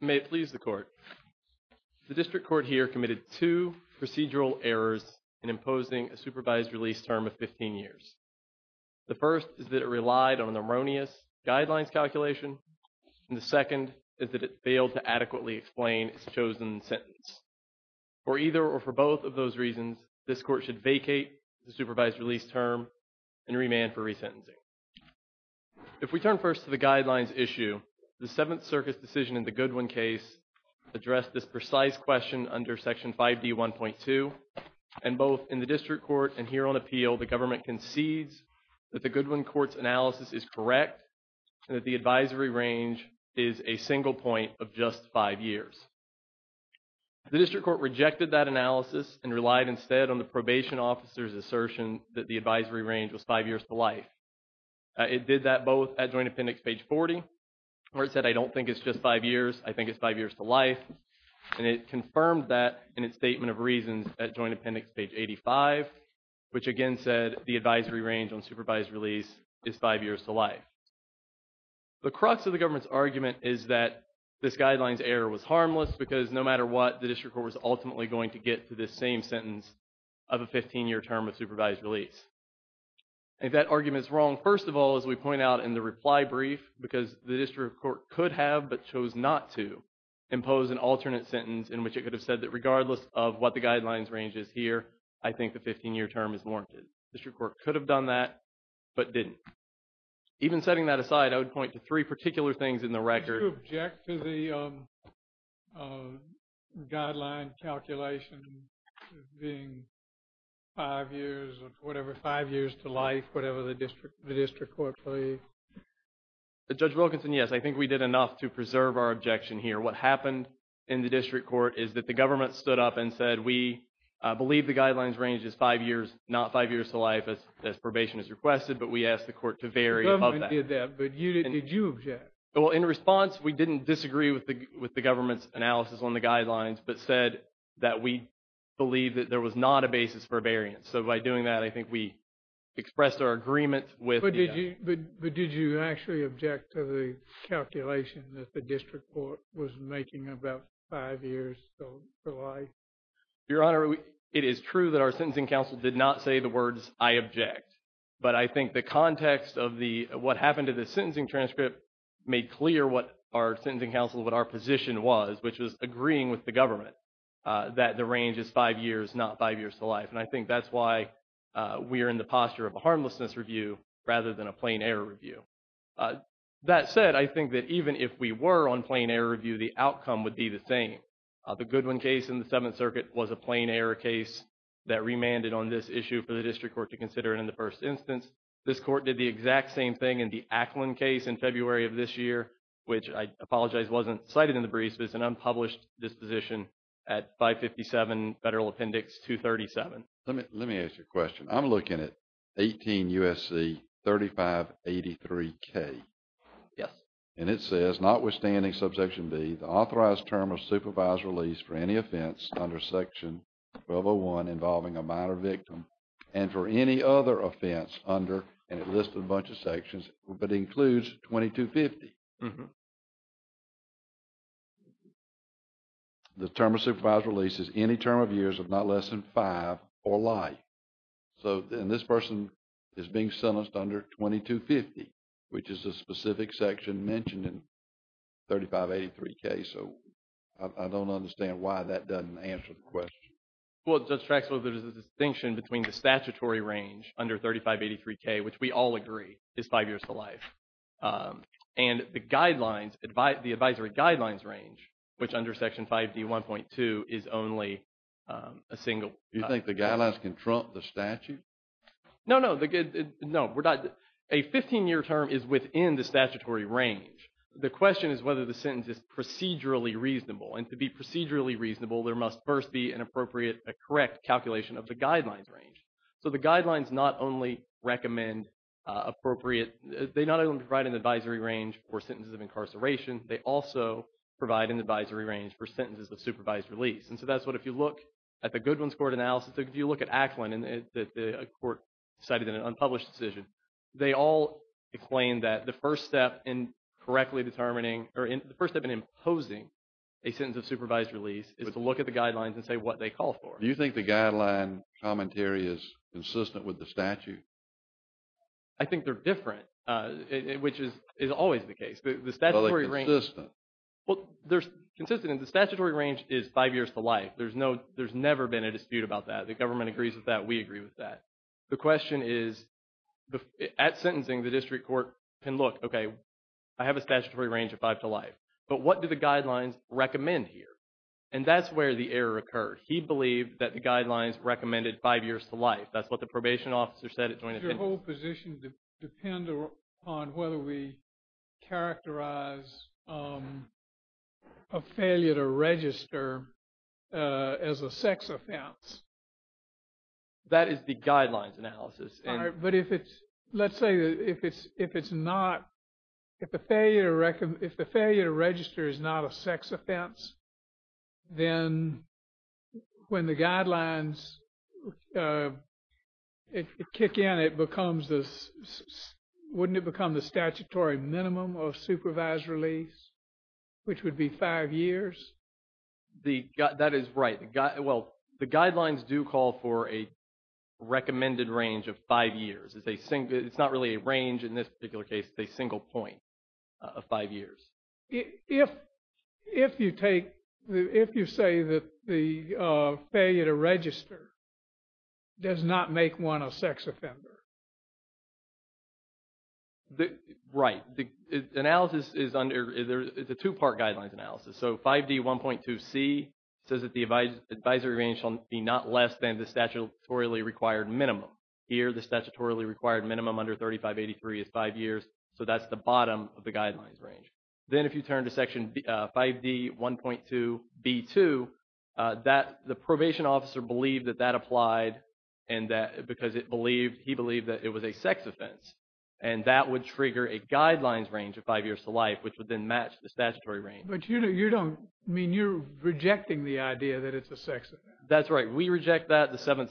May it please the court. The district court here committed two procedural errors in imposing a supervised release term of 15 years. The first is that it relied on an erroneous guidelines calculation and the second is that it failed to adequately explain its chosen sentence. For either or for both of those reasons this court should vacate the supervised release term and remand for resentencing. If we turn first to the guidelines issue the Seventh Circus decision in the Goodwin case addressed this precise question under section 5d 1.2 and both in the district court and here on appeal the government concedes that the Goodwin court's analysis is correct and that the advisory range is a single point of just five years. The district court rejected that analysis and relied instead on the probation officer's assertion that the advisory range was five years to life. It did that both at Joint Appendix page 40 where it said I don't think it's just five years I think it's five years to life and it confirmed that in its statement of reasons at Joint Appendix page 85 which again said the advisory range on supervised release is five years to life. The crux of the government's argument is that this guidelines error was harmless because no matter what the district court was ultimately going to get to this same sentence of a 15-year term of supervised release. If that argument is wrong first of all as we point out in the reply brief because the district court could have but chose not to impose an alternate sentence in which it could have said that regardless of what the guidelines range is here I think the 15-year term is warranted. The district court could have done that but didn't. Even setting that aside I would point to three particular things in the record. Do you object to the guideline calculation being five years or whatever five years to life whatever the district the district court please? Judge Wilkinson yes I think we did enough to preserve our objection here what happened in the district court is that the government stood up and said we believe the guidelines range is five years not five years to life as as probation is requested but we asked the we didn't disagree with the with the government's analysis on the guidelines but said that we believe that there was not a basis for variance so by doing that I think we expressed our agreement with. But did you actually object to the calculation that the district court was making about five years to life? Your honor it is true that our sentencing counsel did not say the words I object but I think the context of the what happened to the sentencing transcript made clear what our sentencing counsel what our position was which was agreeing with the government that the range is five years not five years to life and I think that's why we are in the posture of a harmlessness review rather than a plain error review. That said I think that even if we were on plain error review the outcome would be the same. The Goodwin case in the Seventh Circuit was a plain error case that remanded on this issue for the district court to consider it in the first instance. This court did the exact same thing in the Acklin case in February of this year which I apologize wasn't cited in the briefs but it's an unpublished disposition at 557 Federal Appendix 237. Let me let me ask you a question. I'm looking at 18 USC 3583 K. Yes. And it says notwithstanding subsection B the authorized term of supervised release for any offense under section 1201 involving a minor victim and for any other offense under and it listed a bunch of sections but includes 2250. The term of supervised release is any term of years of not less than five or life. So then this person is being sentenced under 2250 which is a specific section mentioned in 3583 K so I don't understand why that doesn't answer the question. Well, Judge Traxler, there's a distinction between the statutory range under 3583 K which we all agree is five years to life and the guidelines advised the advisory guidelines range which under section 5d 1.2 is only a single. You think the guidelines can trump the statute? No, no the good no we're not a 15-year term is within the statutory range. The question is whether the sentence is procedurally reasonable and to be procedurally reasonable there must first be an appropriate a correct calculation of the guidelines range. So the guidelines not only recommend appropriate they not only provide an advisory range for sentences of incarceration they also provide an advisory range for sentences of supervised release and so that's what if you look at the Goodwin's Court analysis if you look at Acklin and the court decided in an unpublished decision they all claim that the first step in correctly determining or in the first step in imposing a sentence of is to look at the guidelines and say what they call for. Do you think the guideline commentary is consistent with the statute? I think they're different which is is always the case. Well, they're consistent. The statutory range is five years to life there's no there's never been a dispute about that the government agrees with that we agree with that the question is at sentencing the district court can look okay I have a statutory range of five to life but what do the guidelines recommend here and that's where the error occurred he believed that the guidelines recommended five years to life that's what the probation officer said it's your whole position depend on whether we characterize a failure to register as a sex offense that is the guidelines analysis but if it's let's say if it's if it's not if the failure record if the failure to register is not a sex offense then when the guidelines it kick in it becomes this wouldn't it become the statutory minimum of supervised release which would be five years the gut that is right got well the guidelines do call for a recommended range of five years as they sing it's not really a range in this particular case a single point of five years if if you take the if you say that the failure to register does not make one a sex offender the right the analysis is under there is a two-part guidelines analysis so 5d 1.2 C says that the advice advisory range on be not less than the statutorily required minimum under 3583 is five years so that's the bottom of the guidelines range then if you turn to section 5d 1.2 b2 that the probation officer believe that that applied and that because it believed he believed that it was a sex offense and that would trigger a guidelines range of five years to life which would then match the statutory range but you know you don't mean you're rejecting the idea that it's a sex that's right we reject that the government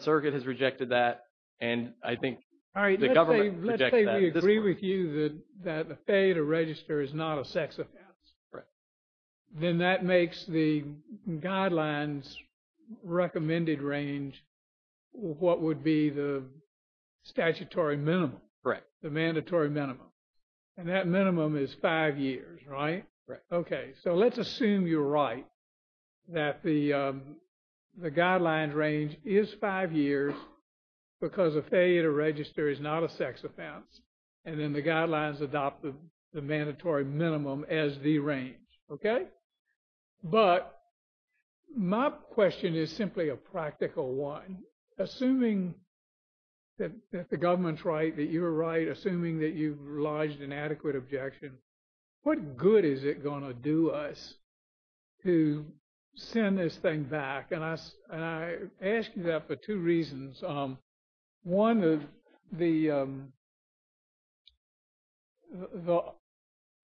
all right let's say we agree with you that the failure to register is not a sex offense right then that makes the guidelines recommended range what would be the statutory minimum correct the mandatory minimum and that minimum is five years right right okay so let's assume you're right that the the failure to register is not a sex offense and then the guidelines adopted the mandatory minimum as the range okay but my question is simply a practical one assuming that the government's right that you're right assuming that you lodged an adequate objection what good is it going to do us to send this thing back and I asked you that for two reasons one of the the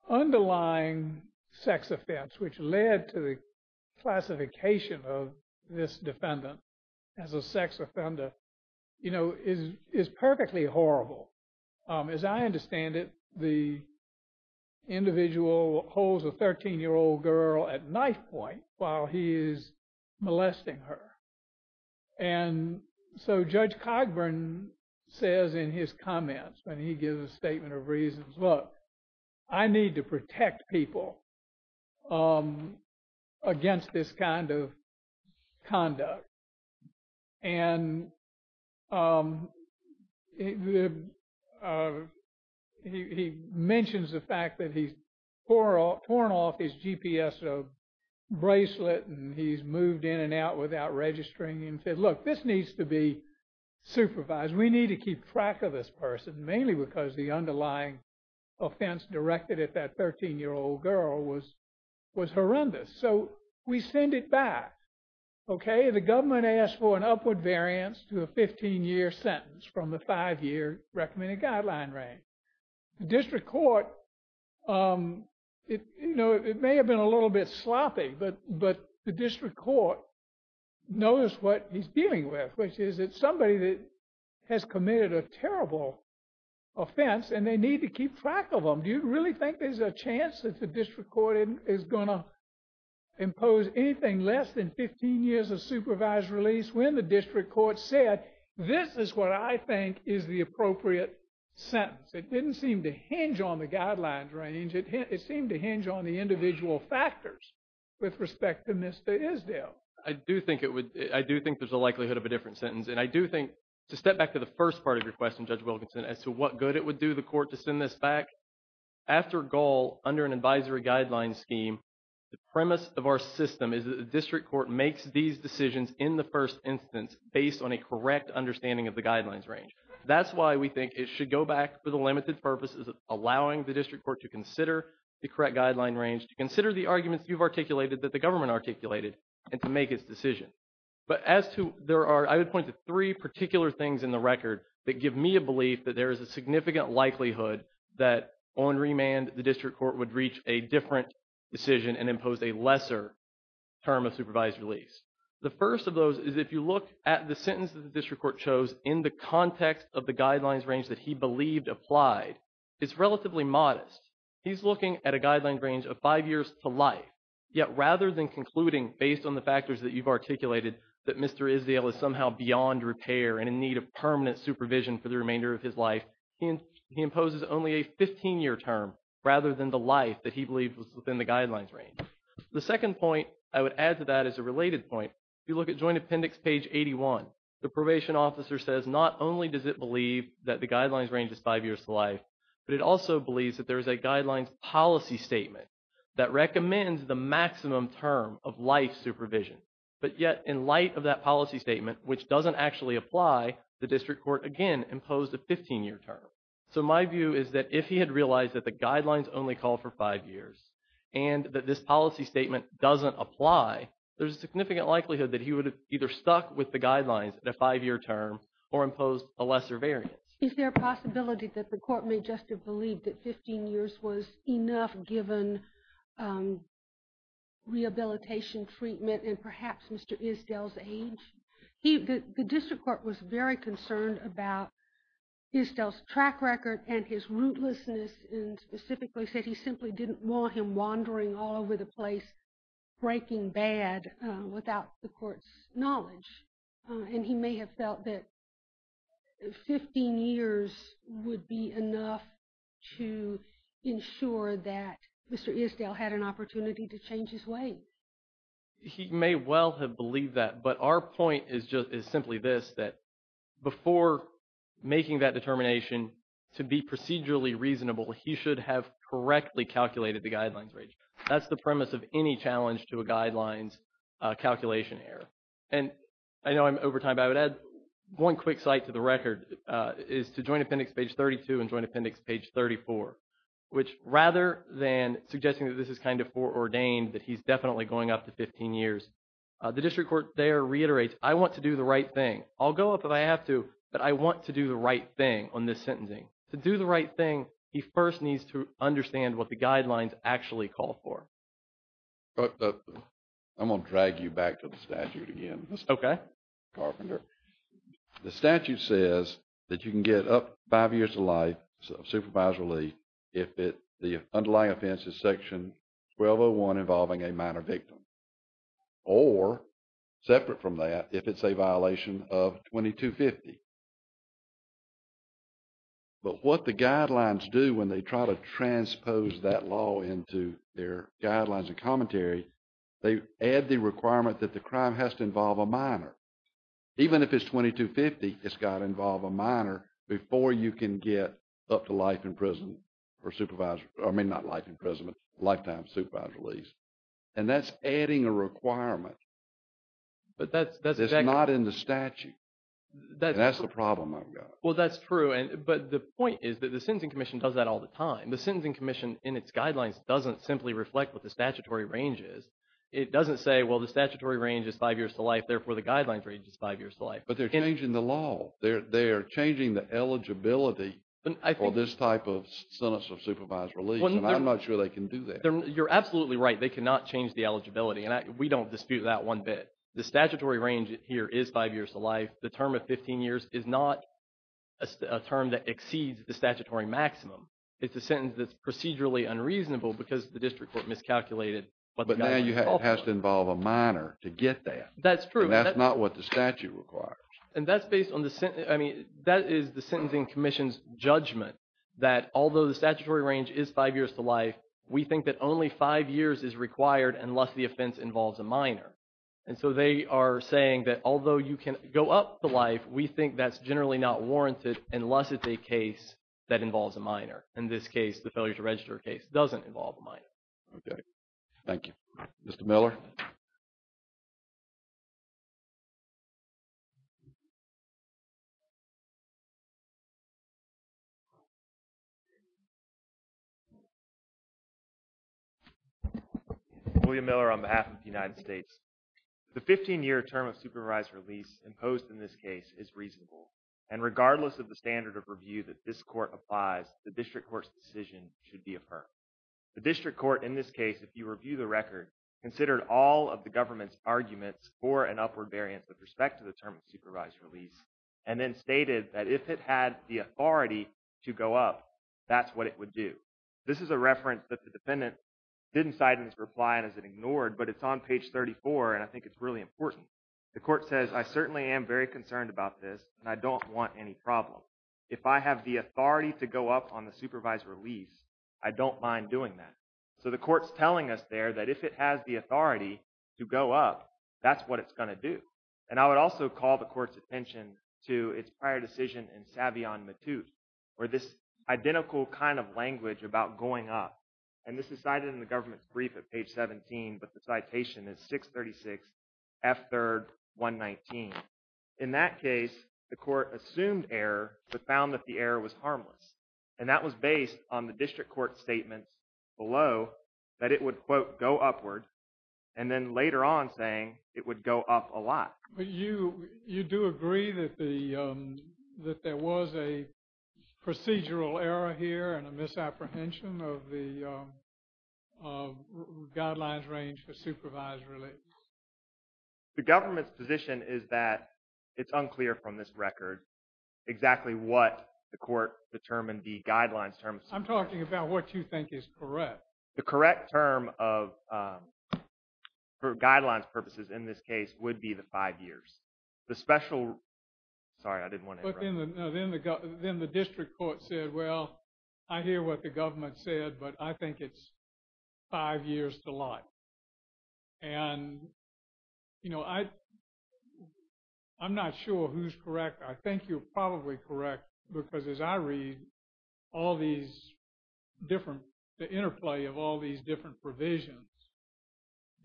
underlying sex offense which led to the classification of this defendant as a sex offender you know is is perfectly horrible as I understand it the individual holds a charge of molesting her and so Judge Cogburn says in his comments when he gives a statement of reasons look I need to protect people against this kind of conduct and he mentions the fact that he's for all torn off his GPS of bracelet and he's moved in and out without registering and said look this needs to be supervised we need to keep track of this person mainly because the underlying offense directed at that 13 year old girl was was horrendous so we send it back okay the government asked for an upward variance to a 15 year sentence from the five-year recommended guideline range district court it you know it may have been a little bit sloppy but but the district court knows what he's dealing with which is that somebody that has committed a terrible offense and they need to keep track of them do you really think there's a chance that the district court is going to impose anything less than 15 years of supervised release when the district court said this is what I think is the appropriate sentence it didn't seem to hinge on the individual factors with respect to Mr. Isdale I do think it would I do think there's a likelihood of a different sentence and I do think to step back to the first part of your question Judge Wilkinson as to what good it would do the court to send this back after goal under an advisory guideline scheme the premise of our system is that the district court makes these decisions in the first instance based on a correct understanding of the guidelines range that's why we think it should go back for the limited purposes of allowing the district court to consider the correct guideline range to consider the arguments you've articulated that the government articulated and to make its decision but as to there are I would point to three particular things in the record that give me a belief that there is a significant likelihood that on remand the district court would reach a different decision and impose a lesser term of supervised release the first of those is if you look at the sentence that the district court chose in the context of the guidelines range that he believed applied it's relatively modest he's looking at a guideline range of five years to life yet rather than concluding based on the factors that you've articulated that Mr. Isdale is somehow beyond repair and in need of permanent supervision for the remainder of his life he imposes only a 15-year term rather than the life that he believed was within the guidelines range the second point I would add to that is a related point if you look at joint appendix page 81 the probation officer says not only does it but it also believes that there is a guidelines policy statement that recommends the maximum term of life supervision but yet in light of that policy statement which doesn't actually apply the district court again imposed a 15-year term so my view is that if he had realized that the guidelines only call for five years and that this policy statement doesn't apply there's a significant likelihood that he would have either stuck with the guidelines at a five-year term or imposed a lesser variance is there a possibility that the court may just have believed that 15 years was enough given um rehabilitation treatment and perhaps Mr. Isdale's age he the district court was very concerned about Isdale's track record and his rootlessness and specifically said he simply didn't want him wandering all over the place breaking bad without the court's knowledge and he may have felt that 15 years would be enough to ensure that Mr. Isdale had an opportunity to change his way he may well have believed that but our point is just is simply this that before making that determination to be procedurally reasonable he should have correctly calculated the guidelines range that's the premise of any challenge to a guidelines calculation error and I know I'm over time but I would add one quick cite to the record is to joint appendix page 32 and joint appendix page 34 which rather than suggesting that this is kind of foreordained that he's definitely going up to 15 years the district court there reiterates I want to do the right thing I'll go up if I have to but I want to do the right thing on this sentencing to do the right thing he first needs to understand what the guidelines actually call for but I'm going to drag you back to the statute again okay carpenter the statute says that you can get up five years of life so supervisory if it the underlying offenses section 1201 involving a minor victim or separate from that if it's a violation of 2250 but what the guidelines do when they try to transpose that law into their guidelines and commentary they add the requirement that the crime has to involve a minor even if it's 2250 it's got to involve a minor before you can get up to life in prison for supervisor I mean not life imprisonment lifetime supervisor release and that's adding a requirement but that's that's not in the statute that's the problem I've got well that's true and but the point is that the sentencing commission does that all the time the sentencing commission in its guidelines doesn't simply reflect what the statutory range is it doesn't say well the statutory range is five years to life therefore the guidelines range is five years to life but they're changing the law they're they're changing the eligibility for this type of sentence of supervised release and I'm not sure they can do that you're absolutely right they cannot change the eligibility and we don't dispute that one bit the statutory range here is five years to life the term of 15 years is not a term that exceeds the statutory maximum it's a sentence that's procedurally unreasonable because the district court miscalculated but now you have to involve a minor to get that that's true that's not what the statute requires and that's based on the sentence I mean that is the sentencing commission's judgment that although the statutory range is five years to life we think that only five years is required unless the offense involves a minor and so they are saying that although you can go up to life we think that's generally not warranted unless it's a case that involves a minor in this case the failure to register case doesn't involve a minor okay Thank you. Mr. Miller. William Miller on behalf of the United States. The 15-year term of supervised release imposed in this case is reasonable and regardless of the standard of review that this court applies the district court's decision should be affirmed. The district court in this case if you review the record considered all of the government's arguments for an upward variance with respect to the term of supervised release and then stated that if it had the authority to go up that's what it would do. This is a reference that the defendant didn't cite in his reply and as it ignored but it's on page 34 and I think it's really important the court says I certainly am very concerned about this and I don't want any problem. If I have the authority to go up on the supervised release I don't mind doing that. So the court's telling us there that if it has the authority to go up that's what it's going to do and I would also call the court's attention to its prior decision in Savion Matute where this identical kind of language about going up and this is cited in the court assumed error but found that the error was harmless and that was based on the district court statements below that it would quote go upward and then later on saying it would go up a lot. But you do agree that there was a procedural error here and a misapprehension of the supervised release. The government's position is that it's unclear from this record exactly what the court determined the guidelines terms. I'm talking about what you think is correct. The correct term of for guidelines purposes in this case would be the five years. The special sorry I didn't want to. But then the district court said well I hear what the government said but I think it's five years to life and you know I'm not sure who's correct. I think you're probably correct because as I read all these different the interplay of all these different provisions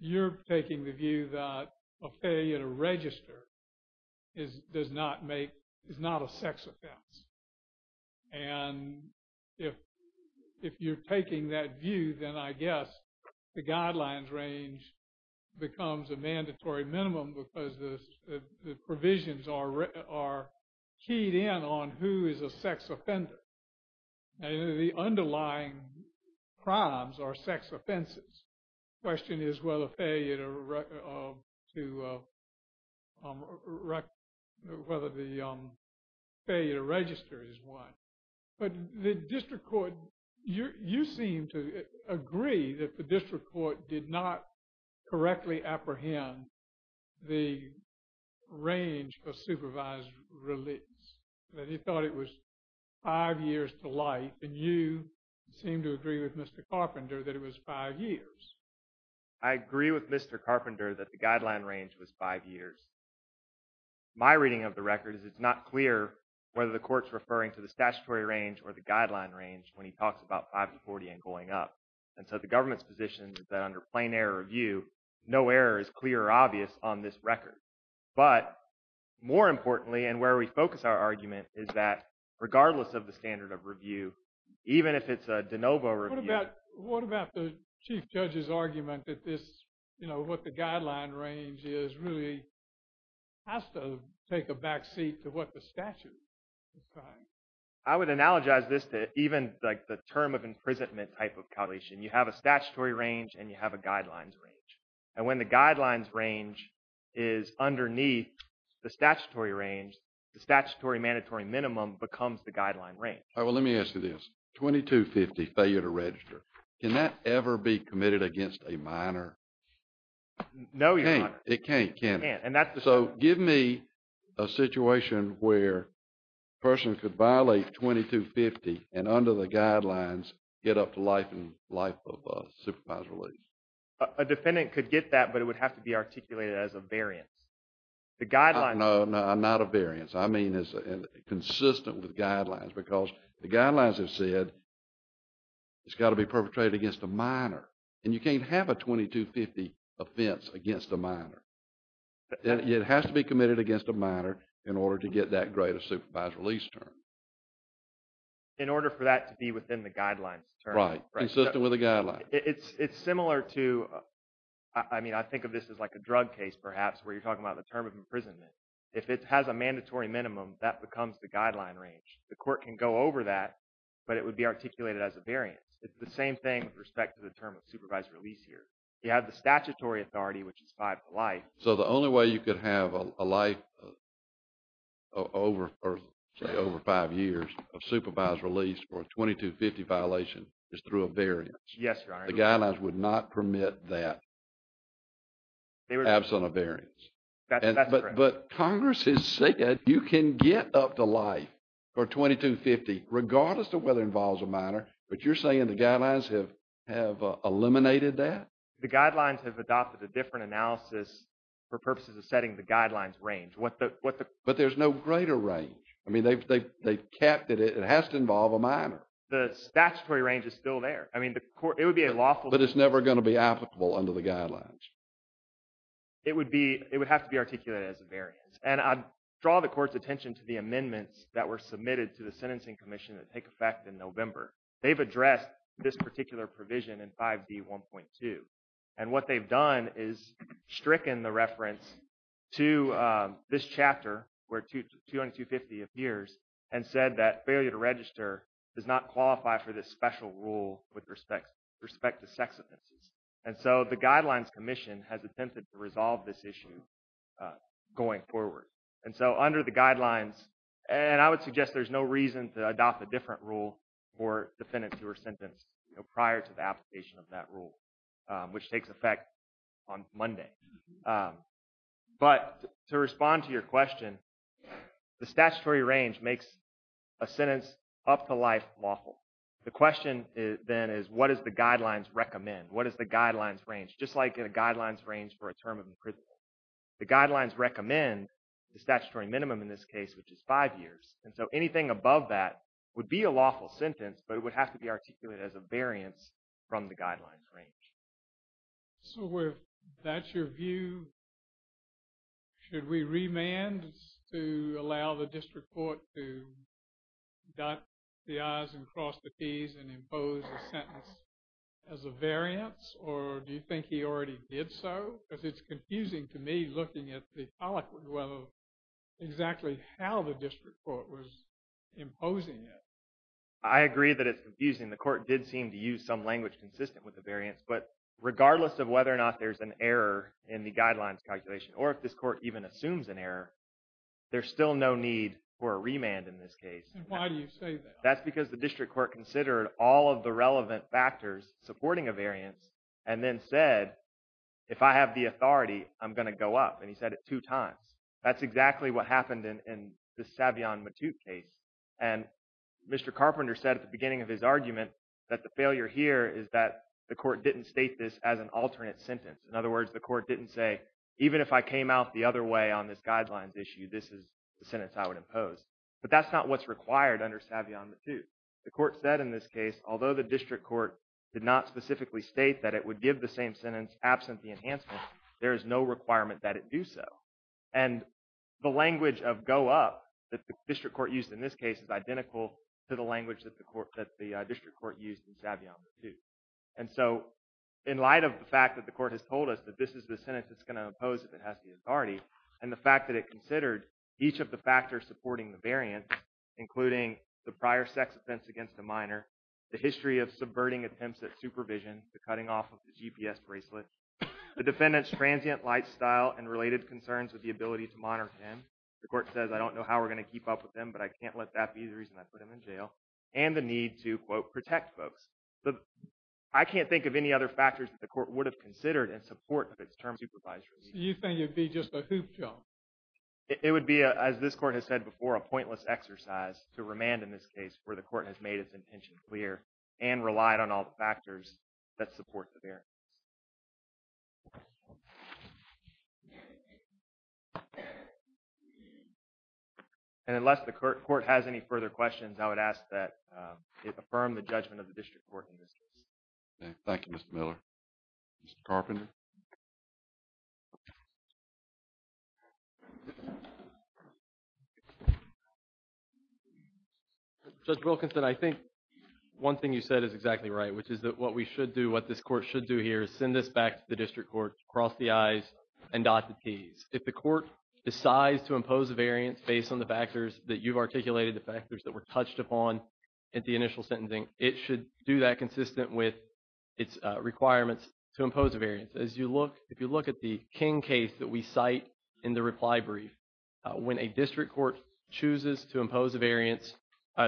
you're taking the view that a failure to register is does not make is not a sex offense and if you're taking that view then I guess the guidelines range becomes a mandatory minimum because the provisions are keyed in on who is a sex offender and the underlying crimes are sex offenses. The question is whether the failure to register is one. But the district court you seem to agree that the district court did not correctly apprehend the range for supervised release that he thought it was five years to life and you seem to agree with Mr. Carpenter that it was five years. I agree with Mr. Carpenter that the guideline range was five years. My reading of the record is it's not clear whether the court's referring to the statutory range or the guideline range when he talks about 5 to 40 and going up and so the government's position is that under plain error review no error is clear or obvious on this record but more importantly and where we focus our argument is that regardless of the standard of review even if it's a de novo review. What about the chief judge's argument that this you know what the guideline range is really has to take a back seat to what the statute says. I would analogize this to even like the term of imprisonment type of coalition you have a statutory range and you have a guidelines range and when the guidelines range is underneath the statutory range the statutory mandatory minimum becomes the guideline range. All right well let me ask you this 2250 failure to register can that ever be committed against a minor? No it can't. So give me a situation where a person could violate 2250 and under the guidelines get up to life and life of a supervised release. A defendant could get that but it would have to be articulated as a variance. The guideline. No not a variance I mean it's consistent with guidelines because the guidelines have said it's got to be perpetrated against a minor and you can't have a 2250 offense against a minor. It has to be committed against a minor in order to get that greater supervised release term. In order for that to be within the guidelines right consistent with the guideline. It's similar to I mean I think of this as like a drug case perhaps where you're talking about the term of imprisonment. If it has a mandatory minimum that becomes the guideline range. The court can go over that but it would be articulated as a variance. It's the same thing with respect to the term of supervised release here. You have the statutory authority which is five to life. So the only way you could have a life over or say over five years of supervised release for a 2250 violation is through a variance. Yes your honor. The guidelines would not permit that absent a variance. But congress is saying that you can get up to life for 2250 regardless of whether it involves a minor. But you're saying the guidelines have eliminated that? The guidelines have adopted a different analysis for purposes of setting the guidelines range. But there's no greater range. I mean they've kept it. It has to involve a minor. The statutory range is still there. I mean it would be a lawful. But it's never going to be applicable under the guidelines. It would have to be articulated as a variance. And I'd draw the court's attention to the amendments that were they've addressed this particular provision in 5d 1.2. And what they've done is stricken the reference to this chapter where 2250 appears and said that failure to register does not qualify for this special rule with respect to sex offenses. And so the guidelines commission has attempted to resolve this issue going forward. And so under the guidelines and I would suggest there's no reason to adopt a different rule for defendants who are sentenced prior to the application of that rule which takes effect on Monday. But to respond to your question, the statutory range makes a sentence up to life lawful. The question then is what does the guidelines recommend? What is the guidelines range? Just like in a guidelines range for a term of imprisonment. The guidelines recommend the statutory minimum in this case which is five years. And so anything above that would be a lawful sentence. But it would have to be articulated as a variance from the guidelines range. So if that's your view, should we remand to allow the district court to dot the i's and cross the t's and impose a sentence as a variance? Or do you think he already did so? Because it's confusing to me looking at the eloquent level of exactly how the district court was imposing it. I agree that it's confusing. The court did seem to use some language consistent with the variance. But regardless of whether or not there's an error in the guidelines calculation or if this court even assumes an error, there's still no need for a remand in this case. And why do you say that? That's because the district court considered all of the relevant factors supporting a variance and then said, if I have the authority, I'm going to go up. And he said it two times. That's exactly what happened in the Savion Matute case. And Mr. Carpenter said at the beginning of his argument that the failure here is that the court didn't state this as an alternate sentence. In other words, the court didn't say, even if I came out the other way on this guidelines issue, this is the sentence I would impose. But that's not what's required under Savion Matute. The court said in this case, although the district court did not specifically state that it would give the same sentence absent the enhancement, there is no requirement that it do so. And the language of go up that the district court used in this case is identical to the language that the court that the district court used in Savion Matute. And so in light of the fact that the court has told us that this is the sentence it's going to impose if it has the authority and the fact that it considered each of the factors supporting the variance, including the prior sex offense against a minor, the history of subverting attempts at supervision, the cutting off of the GPS bracelet, the defendant's transient lifestyle and related concerns with the ability to monitor him. The court says, I don't know how we're going to keep up with him, but I can't let that be the reason I put him in jail. And the need to, quote, protect folks. I can't think of any other factors that the court would have considered in support of its term supervisor. You think it'd be just a hoop job? It would be, as this court has said before, a pointless exercise to remand in this case where the court has made its intention clear and relied on all the factors that support the variance. And unless the court has any further questions, I would ask that affirm the judgment of the district court in this case. Thank you, Mr. Miller. Mr. Carpenter. Judge Wilkinson, I think one thing you said is exactly right, which is that what we should do, what this court should do here is send this back to the district court, cross the I's and dot the T's. If the court decides to impose a variance based on the factors that you've articulated, the factors that were touched upon at the initial sentencing, it should do that consistent with its requirements to impose a variance. As you look, if you look at the King case that we cite in the reply brief, when a district court chooses to impose a variance,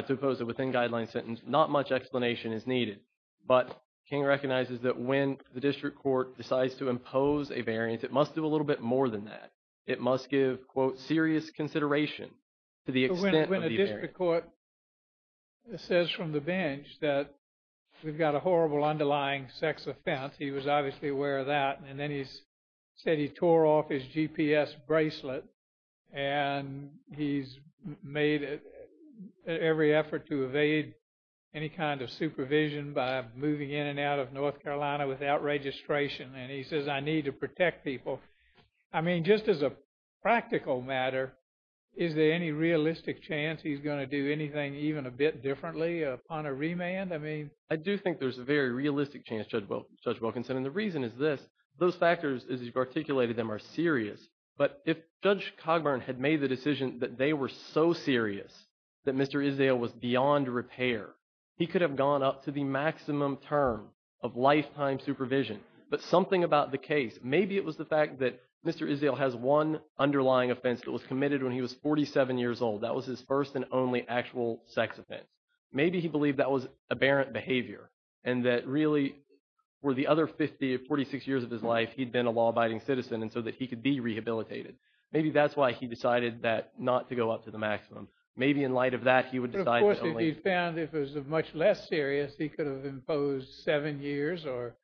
to impose it within guideline sentence, not much explanation is needed. But King recognizes that when the district court decides to impose a variance, it must do a little bit more than that. It must give, quote, serious consideration to the extent of the variance. When a district court says from the bench that we've got a horrible underlying sex offense, he was obviously aware of that. And then he's said he tore off his GPS bracelet and he's made every effort to evade any kind of supervision by moving in and out of North Carolina without registration. And he says, I need to protect people. I mean, just as a practical matter, is there any realistic chance he's going to do anything even a bit differently upon a remand? I mean, I do think there's a very realistic chance, Judge Wilkinson. And the reason is this, those factors as you've articulated them are serious. But if Judge Cogburn had made the decision that they were so serious that Mr. Isdale was beyond repair, he could have gone up to the maximum term of lifetime supervision. But something about the case, maybe it was the fact that Mr. Isdale has one underlying offense that was committed when he was 47 years old. That was his first and only actual sex offense. Maybe he believed that was aberrant behavior. And that really, for the other 50 or 46 years of his life, he'd been a law-abiding citizen and so that he could be rehabilitated. Maybe that's why he decided that not to go up to the maximum. Maybe in light of that, he would decide- But of course, if he found it was much less serious, he could have imposed seven years or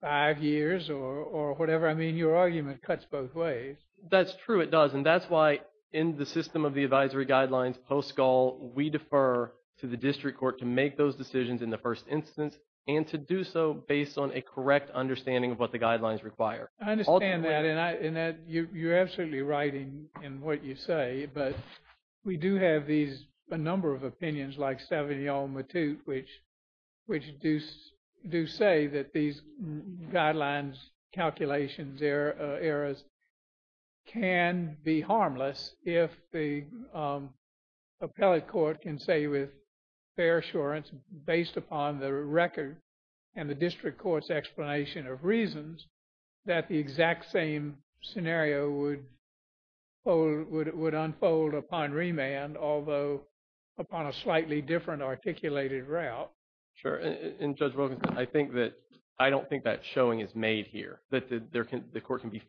five years or whatever. I mean, your argument cuts both ways. That's true, it does. And that's why, in the system of the advisory guidelines post-Gaul, we defer to the district court to make those decisions in the first instance, and to do so based on a correct understanding of what the guidelines require. I understand that, and you're absolutely right in what you say. But we do have these, a number of opinions like yours, can be harmless if the appellate court can say with fair assurance, based upon the record and the district court's explanation of reasons, that the exact same scenario would unfold upon remand, although upon a slightly different articulated route. Sure. And Judge Wilkinson, I don't think that showing is made here, that the court can be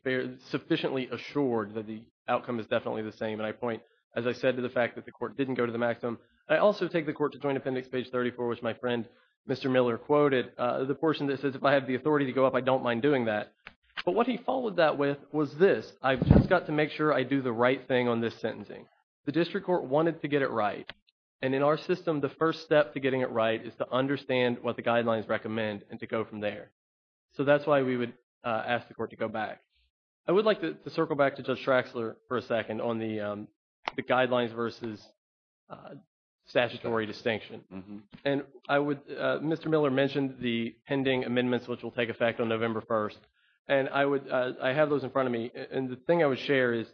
sufficiently assured that the outcome is definitely the same. And I point, as I said, to the fact that the court didn't go to the maximum. I also take the court to Joint Appendix, page 34, which my friend Mr. Miller quoted, the portion that says, if I have the authority to go up, I don't mind doing that. But what he followed that with was this. I've just got to make sure I do the right thing on this sentencing. The district court wanted to get it right. And in our system, the first step to go from there. So that's why we would ask the court to go back. I would like to circle back to Judge Shraxler for a second on the guidelines versus statutory distinction. And Mr. Miller mentioned the pending amendments, which will take effect on November 1st. And I have those in front of me. And the thing I would share is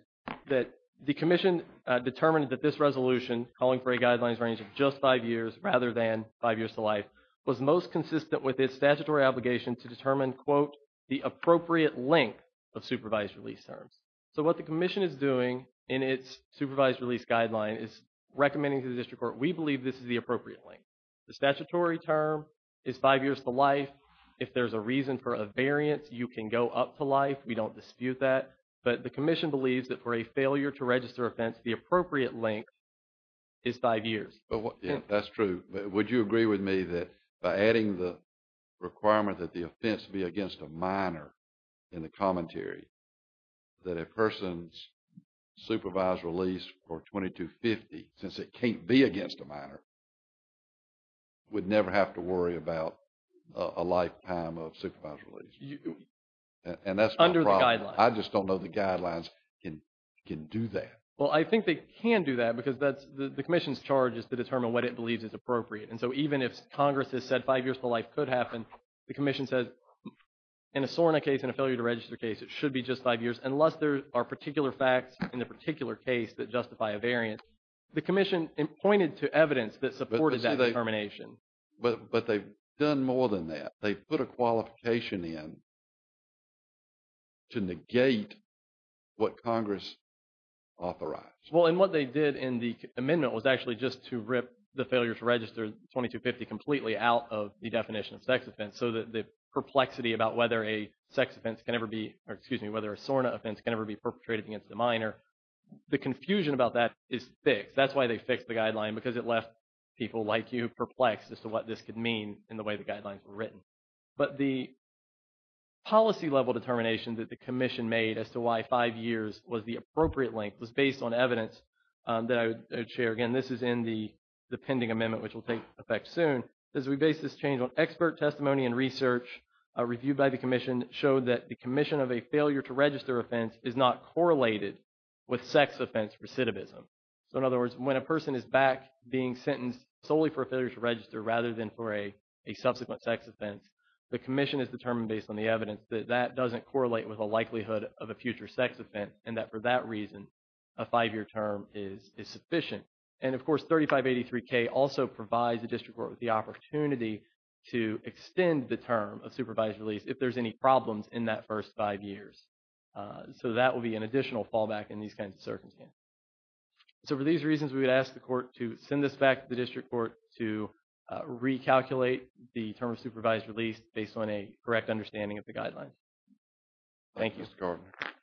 that the commission determined that this resolution, calling for a guidelines range of just five years, rather than five years to life, was most consistent with its statutory obligation to determine, quote, the appropriate length of supervised release terms. So what the commission is doing in its supervised release guideline is recommending to the district court, we believe this is the appropriate length. The statutory term is five years to life. If there's a reason for a variance, you can go up to life. We don't dispute that. But the commission believes that for a failure to register offense, the appropriate length is five years. That's true. But would you agree with me that by adding the requirement that the offense be against a minor in the commentary, that a person's supervised release for 2250, since it can't be against a minor, would never have to worry about a lifetime of supervised release? And that's my problem. Under the guidelines. I just don't know the guidelines can do that. Well, I think they can do that because the commission's charge is to determine what it believes is appropriate. And so even if Congress has said five years to life could happen, the commission says in a SORNA case, in a failure to register case, it should be just five years, unless there are particular facts in the particular case that justify a variance. The commission pointed to evidence that supported that determination. But they've done more than that. They put a qualification in to negate what Congress authorized. Well, and what they did in the amendment was actually just to rip the failure to register 2250 completely out of the definition of sex offense. So that the perplexity about whether a sex offense can ever be, or excuse me, whether a SORNA offense can ever be perpetrated against a minor, the confusion about that is fixed. That's why they fixed the guideline, because it left people like you perplexed as to what this could mean in the way the guidelines were written. But the policy level determination that the commission made as to why five years was the appropriate length was based on evidence that I would share. Again, this is in the pending amendment, which will take effect soon. As we base this change on expert testimony and research reviewed by the commission showed that the commission of a failure to register offense is not correlated with sex offense recidivism. So in other words, when a person is back being sentenced solely for a failure to register rather than for a subsequent sex offense, the commission has determined based on the evidence that that doesn't correlate with a likelihood of a future sex offense. And that for that reason, a five-year term is sufficient. And of course, 3583K also provides the district court with the opportunity to extend the term of that will be an additional fallback in these kinds of circumstances. So for these reasons, we would ask the court to send this back to the district court to recalculate the term of supervised release based on a correct understanding of the guidelines. Thank you.